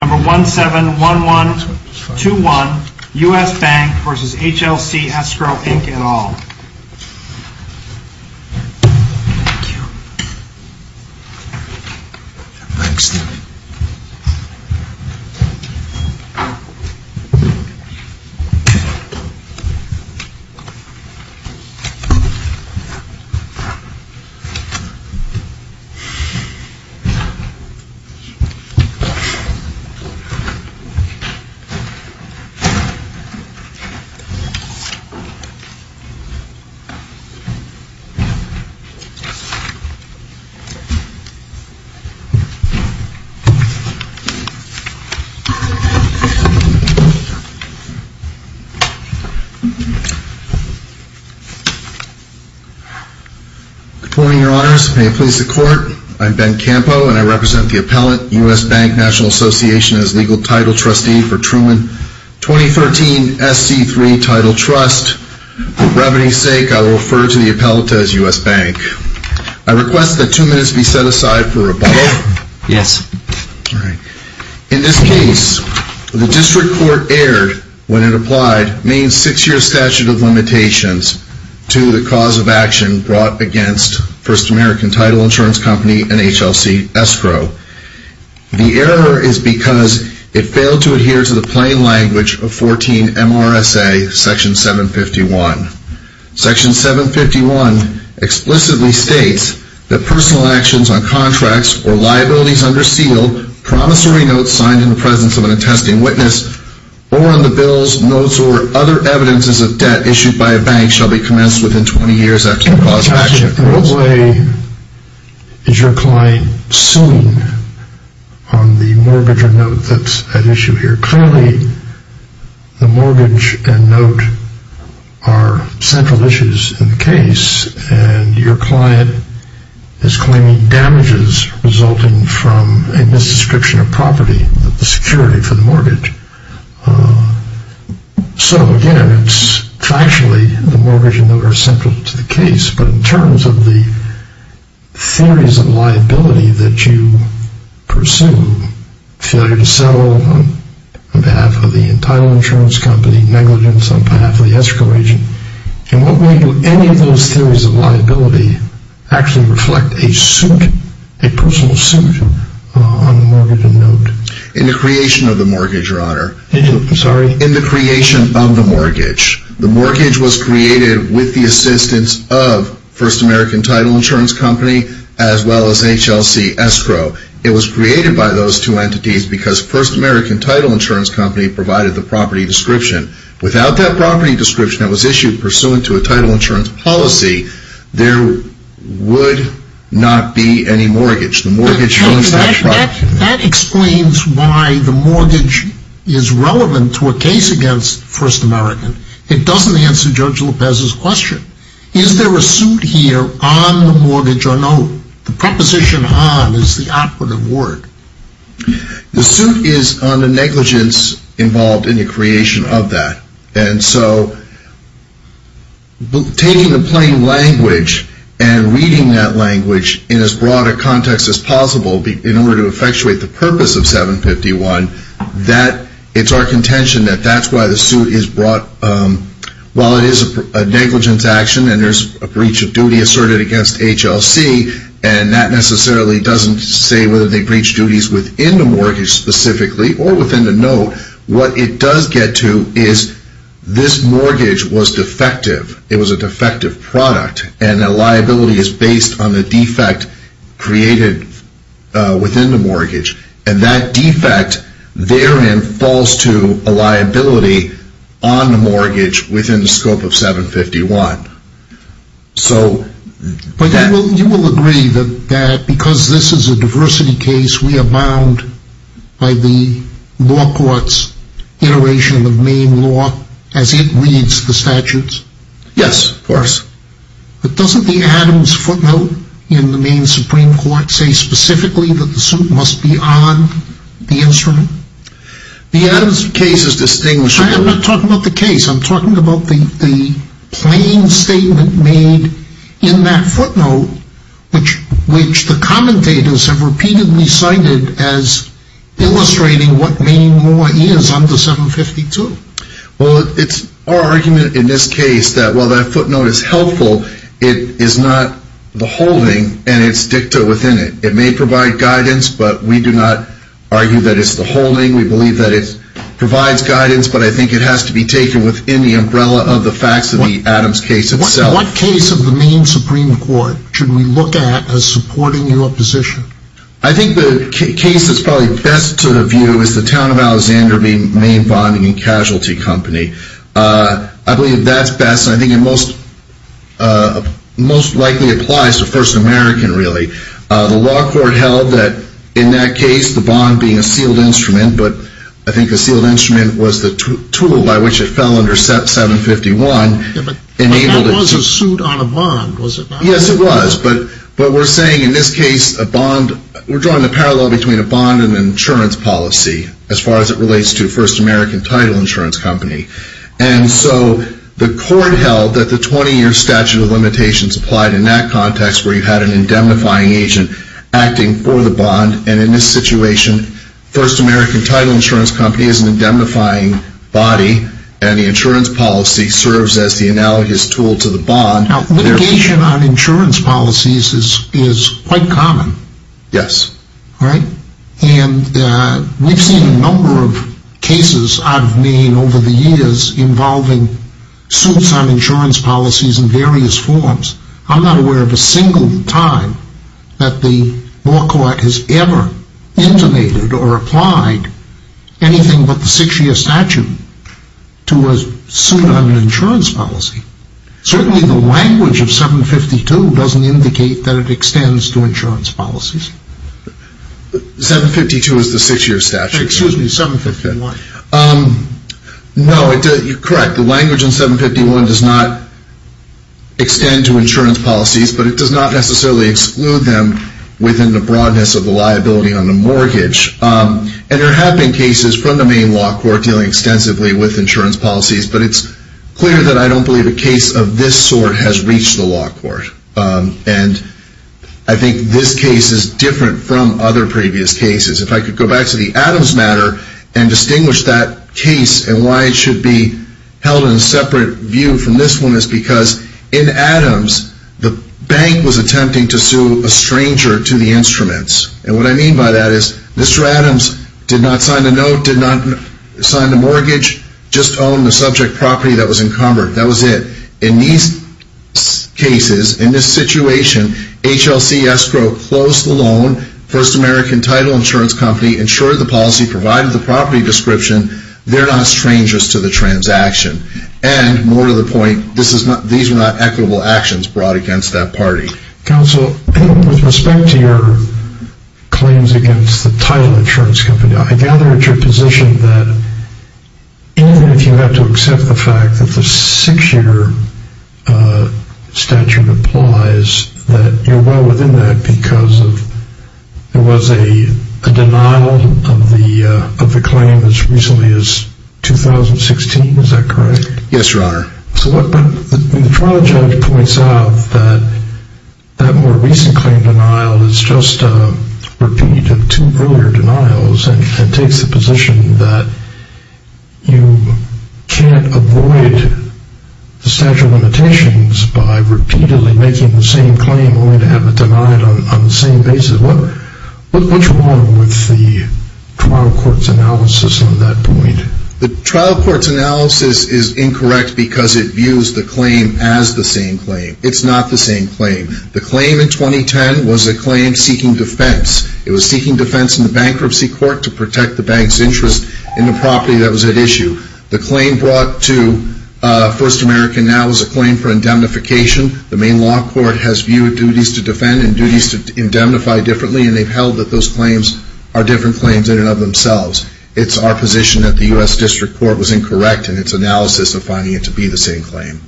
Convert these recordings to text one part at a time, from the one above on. Number 171121, U.S. Bank, N.A. v. HLC Escrow, Inc. et al. Good morning, your honors. May it please the court, I'm Ben Campo and I represent the U.S. Bank. I request that two minutes be set aside for rebuttal. In this case, the district court erred when it applied Maine's six-year statute of limitations to the cause of action brought against First American Title Insurance Company and HLC Escrow. The error is because it failed to adhere to the plain language of 14 MRSA, Section 751. Section 751 explicitly states that personal actions on contracts or liabilities under seal, promissory notes signed in the presence of an attesting witness, or on the bills, notes, or other evidences of debt issued by a bank shall be commenced within 20 years after the cause of action occurs. In what way is your client suing on the mortgage or note that's at issue here? Clearly, the mortgage and note are central issues in the case and your client is claiming damages resulting from a misdescription of property, of the security for the mortgage. So, again, it's factually the mortgage and note are central to the case, but in terms of the theories of liability that you pursue, failure to settle on behalf of the title insurance company, negligence on behalf of the escrow agent, in what way do any of those theories of liability actually reflect a suit, a personal suit on the mortgage and note? In the creation of the mortgage, Your Honor. Sorry. In the creation of the mortgage. The mortgage was created with the assistance of First American Title Insurance Company as well as HLC Escrow. It was created by those two entities because First American Title Insurance Company provided the property description. Without that property description that was issued pursuant to a title insurance policy, there would not be any mortgage. That explains why the mortgage is relevant to a case against First American. It doesn't answer Judge Lopez's question. Is there a suit here on the mortgage or note? The preposition on is the operative word. The suit is on the negligence involved in the creation of that. And so, taking the plain language and reading that language in as broad a context as possible in order to effectuate the purpose of 751, it's our contention that that's why the suit is brought. While it is a negligence action and there's a breach of duty asserted against HLC, and that necessarily doesn't say whether they breached duties within the mortgage specifically or within the note, what it does get to is this mortgage was defective. It was a defective product and the liability is based on the defect created within the mortgage. And that defect therein falls to a liability on the mortgage within the scope of 751. But you will agree that because this is a diversity case, we are bound by the law court's iteration of Maine law as it reads the statutes? Yes, of course. But doesn't the Adams footnote in the Maine Supreme Court say specifically that the suit must be on the instrument? The Adams case is distinguished. I'm not talking about the case. I'm talking about the plain statement made in that footnote which the commentators have repeatedly cited as illustrating what Maine law is under 752. Well, it's our argument in this case that while that footnote is helpful, it is not the holding and it's dicta within it. It may provide guidance, but we do not argue that it's the holding. We believe that it provides guidance, but I think it has to be taken within the umbrella of the facts of the Adams case itself. What case of the Maine Supreme Court should we look at as supporting your position? I think the case that's probably best to the view is the town of Alexander v. Maine Bonding and Casualty Company. I believe that's best. I think it most likely applies to First American really. The law court held that in that case, the bond being a sealed instrument, but I think a sealed instrument was the tool by which it fell under SEP 751. But that was a suit on a bond, was it not? Yes, it was, but we're saying in this case, we're drawing the parallel between a bond and an insurance policy as far as it relates to First American Title Insurance Company. And so the court held that the 20-year statute of limitations applied in that context where you had an indemnifying agent acting for the bond. And in this situation, First American Title Insurance Company is an indemnifying body and the insurance policy serves as the analogous tool to the bond. Now, litigation on insurance policies is quite common. Yes. And we've seen a number of cases out of Maine over the years involving suits on insurance policies in various forms. I'm not aware of a single time that the law court has ever intimated or applied anything but the six-year statute to a suit on an insurance policy. Certainly the language of 752 doesn't indicate that it extends to insurance policies. 752 is the six-year statute. Excuse me, 751. No, you're correct. The language in 751 does not extend to insurance policies, but it does not necessarily exclude them within the broadness of the liability on the mortgage. And there have been cases from the Maine law court dealing extensively with insurance policies, but it's clear that I don't believe a case of this sort has reached the law court. And I think this case is different from other previous cases. If I could go back to the Adams matter and distinguish that case and why it should be held in a separate view from this one is because in Adams, the bank was attempting to sue a stranger to the instruments. And what I mean by that is Mr. Adams did not sign the note, did not sign the mortgage, just owned the subject property that was encumbered. That was it. In these cases, in this situation, HLC escrow closed the loan. First American title insurance company insured the policy, provided the property description. They're not strangers to the transaction. And more to the point, these were not equitable actions brought against that party. Counsel, with respect to your claims against the title insurance company, I gather it's your position that even if you have to accept the fact that the six-year statute implies that you're well within that because there was a denial of the claim as recently as 2016. Is that correct? Yes, Your Honor. The trial judge points out that that more recent claim denial is just a repeat of two earlier denials and takes the position that you can't avoid the statute of limitations by repeatedly making the same claim only to have it denied on the same basis. What's wrong with the trial court's analysis on that point? The trial court's analysis is incorrect because it views the claim as the same claim. It's not the same claim. The claim in 2010 was a claim seeking defense. It was seeking defense in the bankruptcy court to protect the bank's interest in the property that was at issue. The claim brought to First American now is a claim for indemnification. The main law court has viewed duties to defend and duties to indemnify differently, and they've held that those claims are different claims in and of themselves. It's our position that the U.S. District Court was incorrect in its analysis of finding it to be the same claim.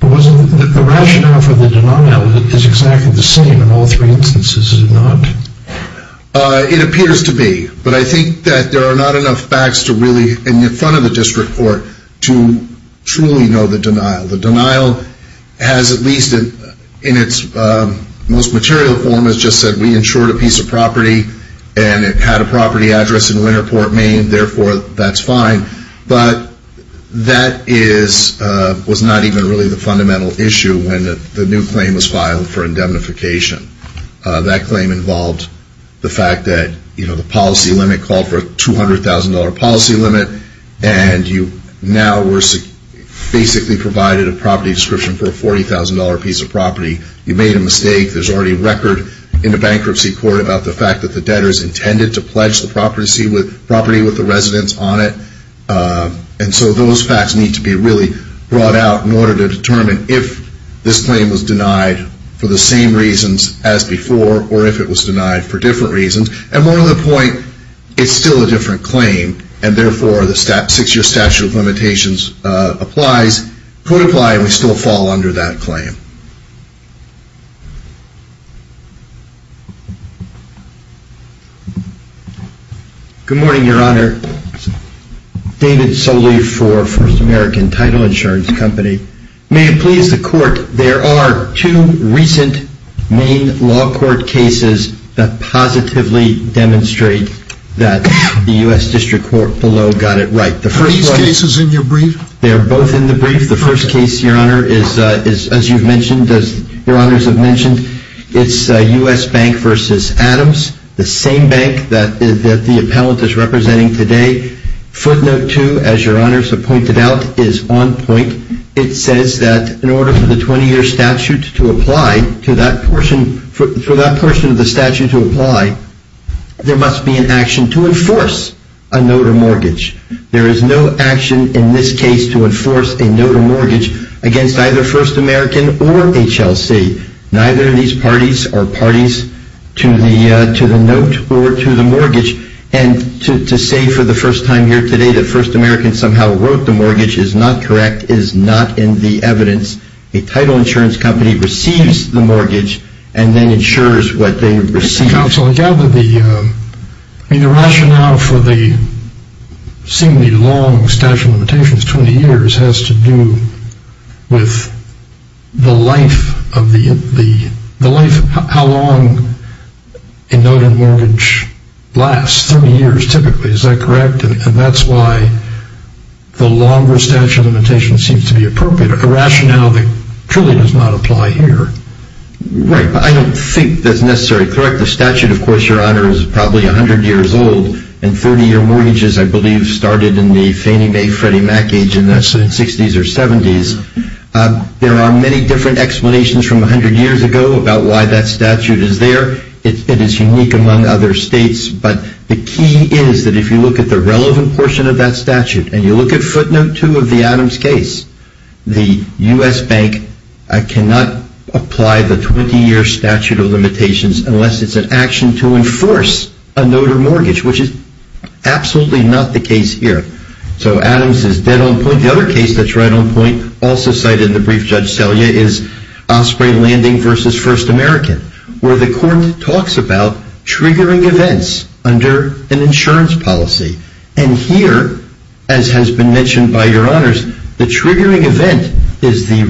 The rationale for the denial is exactly the same in all three instances, is it not? It appears to be, but I think that there are not enough facts to really, in front of the district court, to truly know the denial. The denial has, at least in its most material form, has just said we insured a piece of property and it had a property address in Winterport, Maine, therefore that's fine, but that was not even really the fundamental issue when the new claim was filed for indemnification. That claim involved the fact that the policy limit called for a $200,000 policy limit and you now were basically provided a property description for a $40,000 piece of property. You made a mistake. There's already a record in the bankruptcy court about the fact that the debtors intended to pledge the property with the residents on it, and so those facts need to be really brought out in order to determine if this claim was denied for the same reasons as before, or if it was denied for different reasons. And more to the point, it's still a different claim, and therefore the six-year statute of limitations applies, could apply, and we still fall under that claim. Good morning, Your Honor. David Sully for First American Title Insurance Company. May it please the Court, there are two recent Maine law court cases that positively demonstrate that the U.S. District Court below got it right. Are these cases in your brief? They are both in the brief. The first case, Your Honor, as you've mentioned, as Your Honors have mentioned, it's U.S. Bank v. Adams, the same bank that the appellant is representing today. Footnote 2, as Your Honors have pointed out, is on point. It says that in order for the 20-year statute to apply, for that portion of the statute to apply, there must be an action to enforce a note of mortgage. There is no action in this case to enforce a note of mortgage against either First American or HLC. Neither of these parties are parties to the note or to the mortgage, and to say for the first time here today that First American somehow wrote the mortgage is not correct is not in the evidence. A title insurance company receives the mortgage and then insures what they receive. Counsel, I gather the rationale for the seemingly long statute of limitations, 20 years, has to do with how long a note of mortgage lasts, 30 years typically. Is that correct? And that's why the longer statute of limitations seems to be appropriate, a rationale that truly does not apply here. Right, but I don't think that's necessarily correct. The statute, of course, Your Honor, is probably 100 years old, and 30-year mortgages I believe started in the Fannie Mae, Freddie Mac age in the 60s or 70s. There are many different explanations from 100 years ago about why that statute is there. It is unique among other states, but the key is that if you look at the relevant portion of that statute and you look at footnote 2 of the Adams case, the U.S. bank cannot apply the 20-year statute of limitations unless it's an action to enforce a note of mortgage, which is absolutely not the case here. So Adams is dead on point. The other case that's right on point, also cited in the brief, Judge Selye, is Osprey Landing v. First American, where the court talks about triggering events under an insurance policy. And here, as has been mentioned by Your Honors, the triggering event is the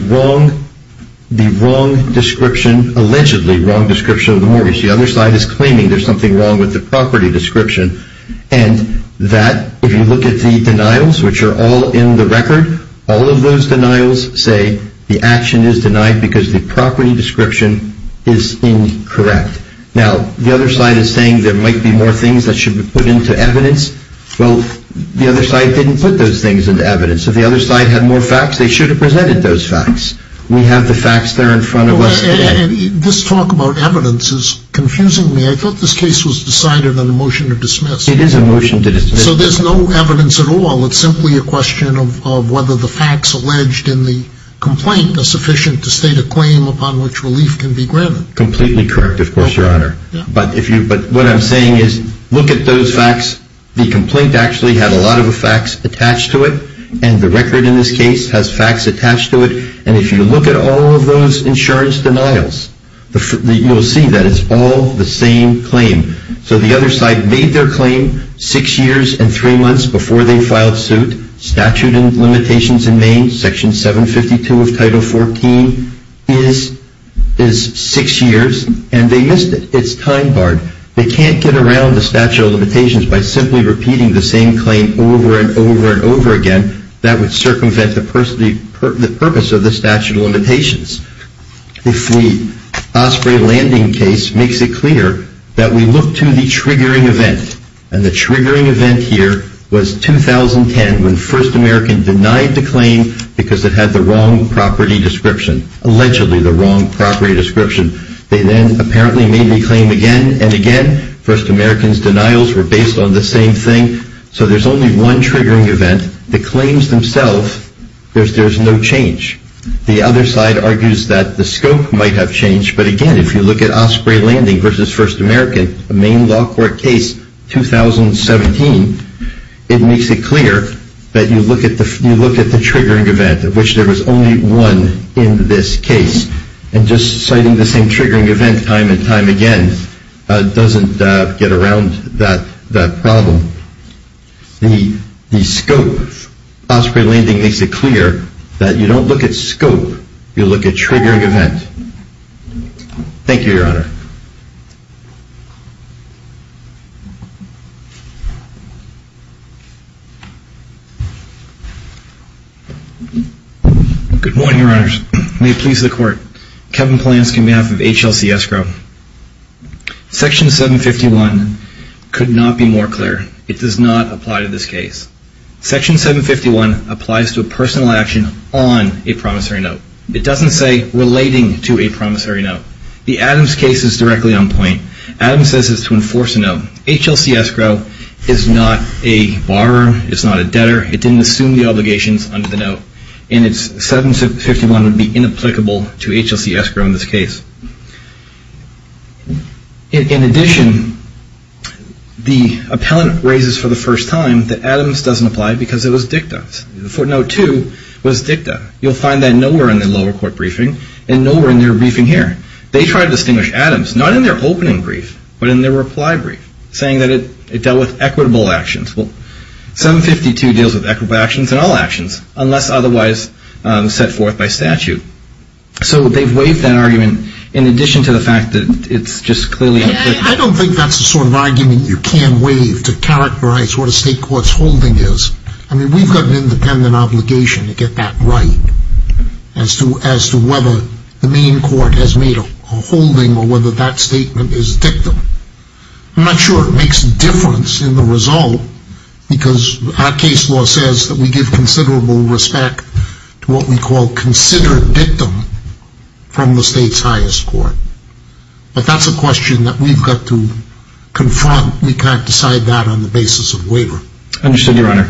wrong description, allegedly wrong description of the mortgage. The other side is claiming there's something wrong with the property description, and that if you look at the denials, which are all in the record, all of those denials say the action is denied because the property description is incorrect. Now, the other side is saying there might be more things that should be put into evidence. Well, the other side didn't put those things into evidence. If the other side had more facts, they should have presented those facts. We have the facts there in front of us today. And this talk about evidence is confusing me. I thought this case was decided on a motion to dismiss. It is a motion to dismiss. So there's no evidence at all. It's simply a question of whether the facts alleged in the complaint are sufficient to state a claim upon which relief can be granted. Completely correct, of course, Your Honor. But what I'm saying is look at those facts. The complaint actually had a lot of the facts attached to it, and the record in this case has facts attached to it. And if you look at all of those insurance denials, you'll see that it's all the same claim. So the other side made their claim six years and three months before they filed suit. Statute and limitations in Maine, Section 752 of Title 14 is six years, and they missed it. It's time-barred. They can't get around the statute of limitations by simply repeating the same claim over and over and over again. That would circumvent the purpose of the statute of limitations. If the Osprey Landing case makes it clear that we look to the triggering event, and the triggering event here was 2010 when First American denied the claim because it had the wrong property description, allegedly the wrong property description. They then apparently made the claim again and again. First American's denials were based on the same thing. So there's only one triggering event. The claims themselves, there's no change. The other side argues that the scope might have changed. But again, if you look at Osprey Landing versus First American, a Maine law court case, 2017, it makes it clear that you look at the triggering event, of which there was only one in this case. And just citing the same triggering event time and time again doesn't get around that problem. The scope of Osprey Landing makes it clear that you don't look at scope. You look at triggering event. Thank you, Your Honor. Good morning, Your Honors. May it please the Court. Kevin Polanski on behalf of HLC Escrow. Section 751 could not be more clear. It does not apply to this case. Section 751 applies to a personal action on a promissory note. It doesn't say relating to a promissory note. The Adams case is directly on point. Adams says it's to enforce a note. HLC Escrow is not a borrower. It's not a debtor. It didn't assume the obligations under the note. And 751 would be inapplicable to HLC Escrow in this case. In addition, the appellant raises for the first time that Adams doesn't apply because it was dicta. For note two, it was dicta. You'll find that nowhere in the lower court briefing and nowhere in their briefing here. They tried to distinguish Adams, not in their opening brief, but in their reply brief, saying that it dealt with equitable actions. Well, 752 deals with equitable actions in all actions unless otherwise set forth by statute. So they've waived that argument in addition to the fact that it's just clearly up there. I don't think that's the sort of argument you can waive to characterize what a state court's holding is. I mean, we've got an independent obligation to get that right as to whether the main court has made a holding or whether that statement is dicta. I'm not sure it makes a difference in the result because our case law says that we give considerable respect to what we call considered dictum from the state's highest court. But that's a question that we've got to confront. We can't decide that on the basis of waiver. Understood, Your Honor.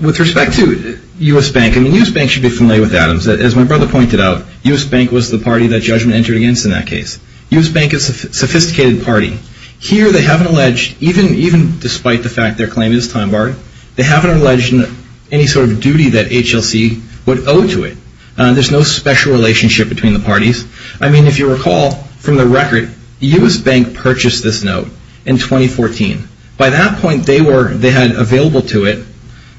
With respect to U.S. Bank, I mean, U.S. Bank should be familiar with Adams. As my brother pointed out, U.S. Bank was the party that judgment entered against in that case. U.S. Bank is a sophisticated party. Here they haven't alleged, even despite the fact their claim is time barred, they haven't alleged any sort of duty that HLC would owe to it. There's no special relationship between the parties. I mean, if you recall from the record, U.S. Bank purchased this note in 2014. By that point, they had available to it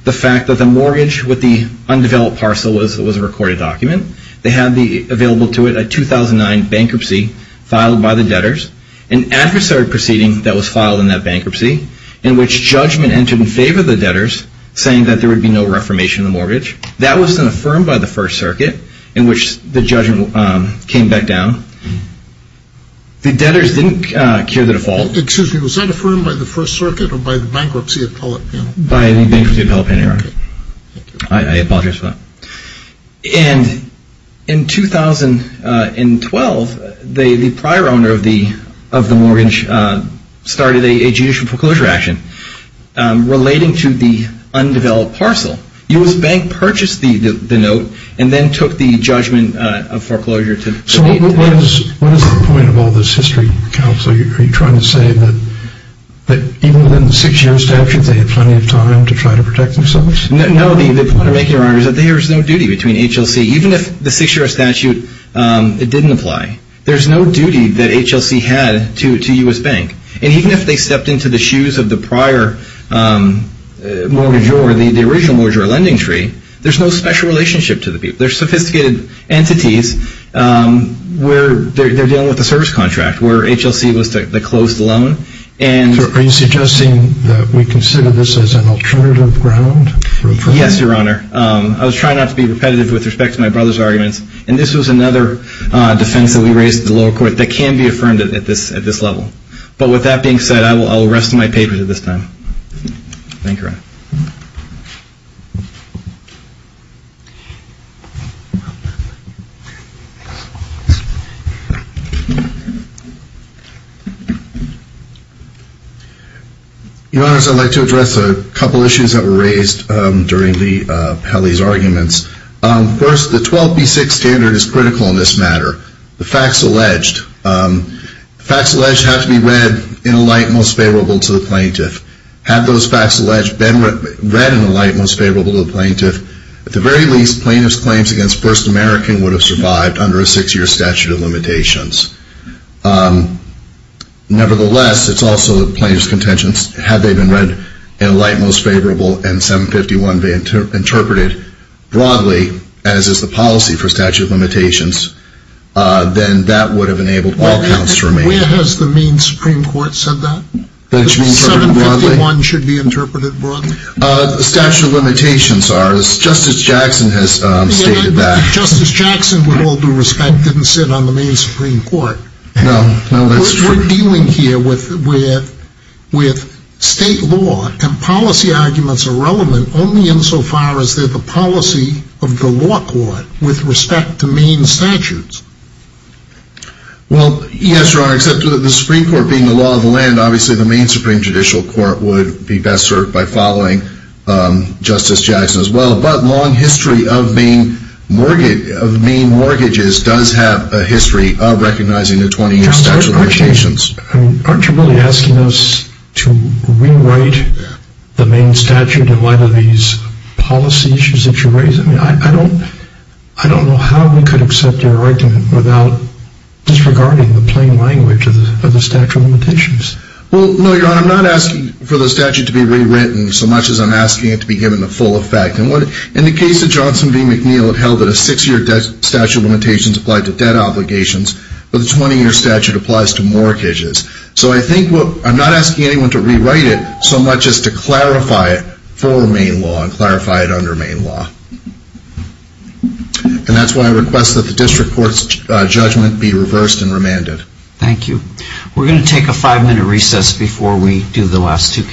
the fact that the mortgage with the undeveloped parcel was a recorded document. They had available to it a 2009 bankruptcy filed by the debtors, an adversarial proceeding that was filed in that bankruptcy, in which judgment entered in favor of the debtors, saying that there would be no reformation of the mortgage. That was then affirmed by the First Circuit, in which the judgment came back down. The debtors didn't cure the default. Excuse me. Was that affirmed by the First Circuit or by the bankruptcy appellate panel? By the bankruptcy appellate panel, Your Honor. I apologize for that. And in 2012, the prior owner of the mortgage started a judicial foreclosure action relating to the undeveloped parcel. U.S. Bank purchased the note and then took the judgment of foreclosure. So what is the point of all this history, Counsel? Are you trying to say that even within the six-year statute, they had plenty of time to try to protect themselves? No, the point I'm making, Your Honor, is that there is no duty between HLC. Even if the six-year statute didn't apply, there's no duty that HLC had to U.S. Bank. And even if they stepped into the shoes of the prior mortgagor, the original mortgagor lending tree, there's no special relationship to the people. They're sophisticated entities. They're dealing with a service contract where HLC was the closed loan. Are you suggesting that we consider this as an alternative ground? Yes, Your Honor. I was trying not to be repetitive with respect to my brother's arguments. And this was another defense that we raised at the lower court that can be affirmed at this level. But with that being said, I will rest my papers at this time. Thank you, Your Honor. Your Honors, I'd like to address a couple of issues that were raised during Lee Pelley's arguments. First, the 12B6 standard is critical in this matter, the facts alleged. The facts alleged have to be read in a light most favorable to the plaintiff. Have those facts alleged been read in a light most favorable to the plaintiff? At the very least, plaintiff's claims against the plaintiff's claimants against First American would have survived under a six-year statute of limitations. Nevertheless, it's also the plaintiff's contentions, had they been read in a light most favorable and 751 interpreted broadly, as is the policy for statute of limitations, then that would have enabled all counts to remain. Where has the Maine Supreme Court said that? That 751 should be interpreted broadly? The statute of limitations, Justice Jackson has stated that. Justice Jackson, with all due respect, didn't sit on the Maine Supreme Court. No, that's true. We're dealing here with state law, and policy arguments are relevant only insofar as they're the policy of the law court with respect to Maine statutes. Well, yes, Your Honor, except for the Supreme Court being the law of the land, obviously the Maine Supreme Judicial Court would be best served by following Justice Jackson as well. But long history of Maine mortgages does have a history of recognizing the 20-year statute of limitations. Aren't you really asking us to rewrite the Maine statute in light of these policy issues that you raise? I don't know how we could accept your argument without disregarding the plain language of the statute of limitations. Well, no, Your Honor, I'm not asking for the statute to be rewritten so much as I'm asking it to be given the full effect. In the case of Johnson v. McNeil, it held that a six-year statute of limitations applied to debt obligations, but the 20-year statute applies to mortgages. So I'm not asking anyone to rewrite it so much as to clarify it for Maine law and clarify it under Maine law. And that's why I request that the district court's judgment be reversed and remanded. Thank you. We're going to take a five-minute recess before we do the last two cases.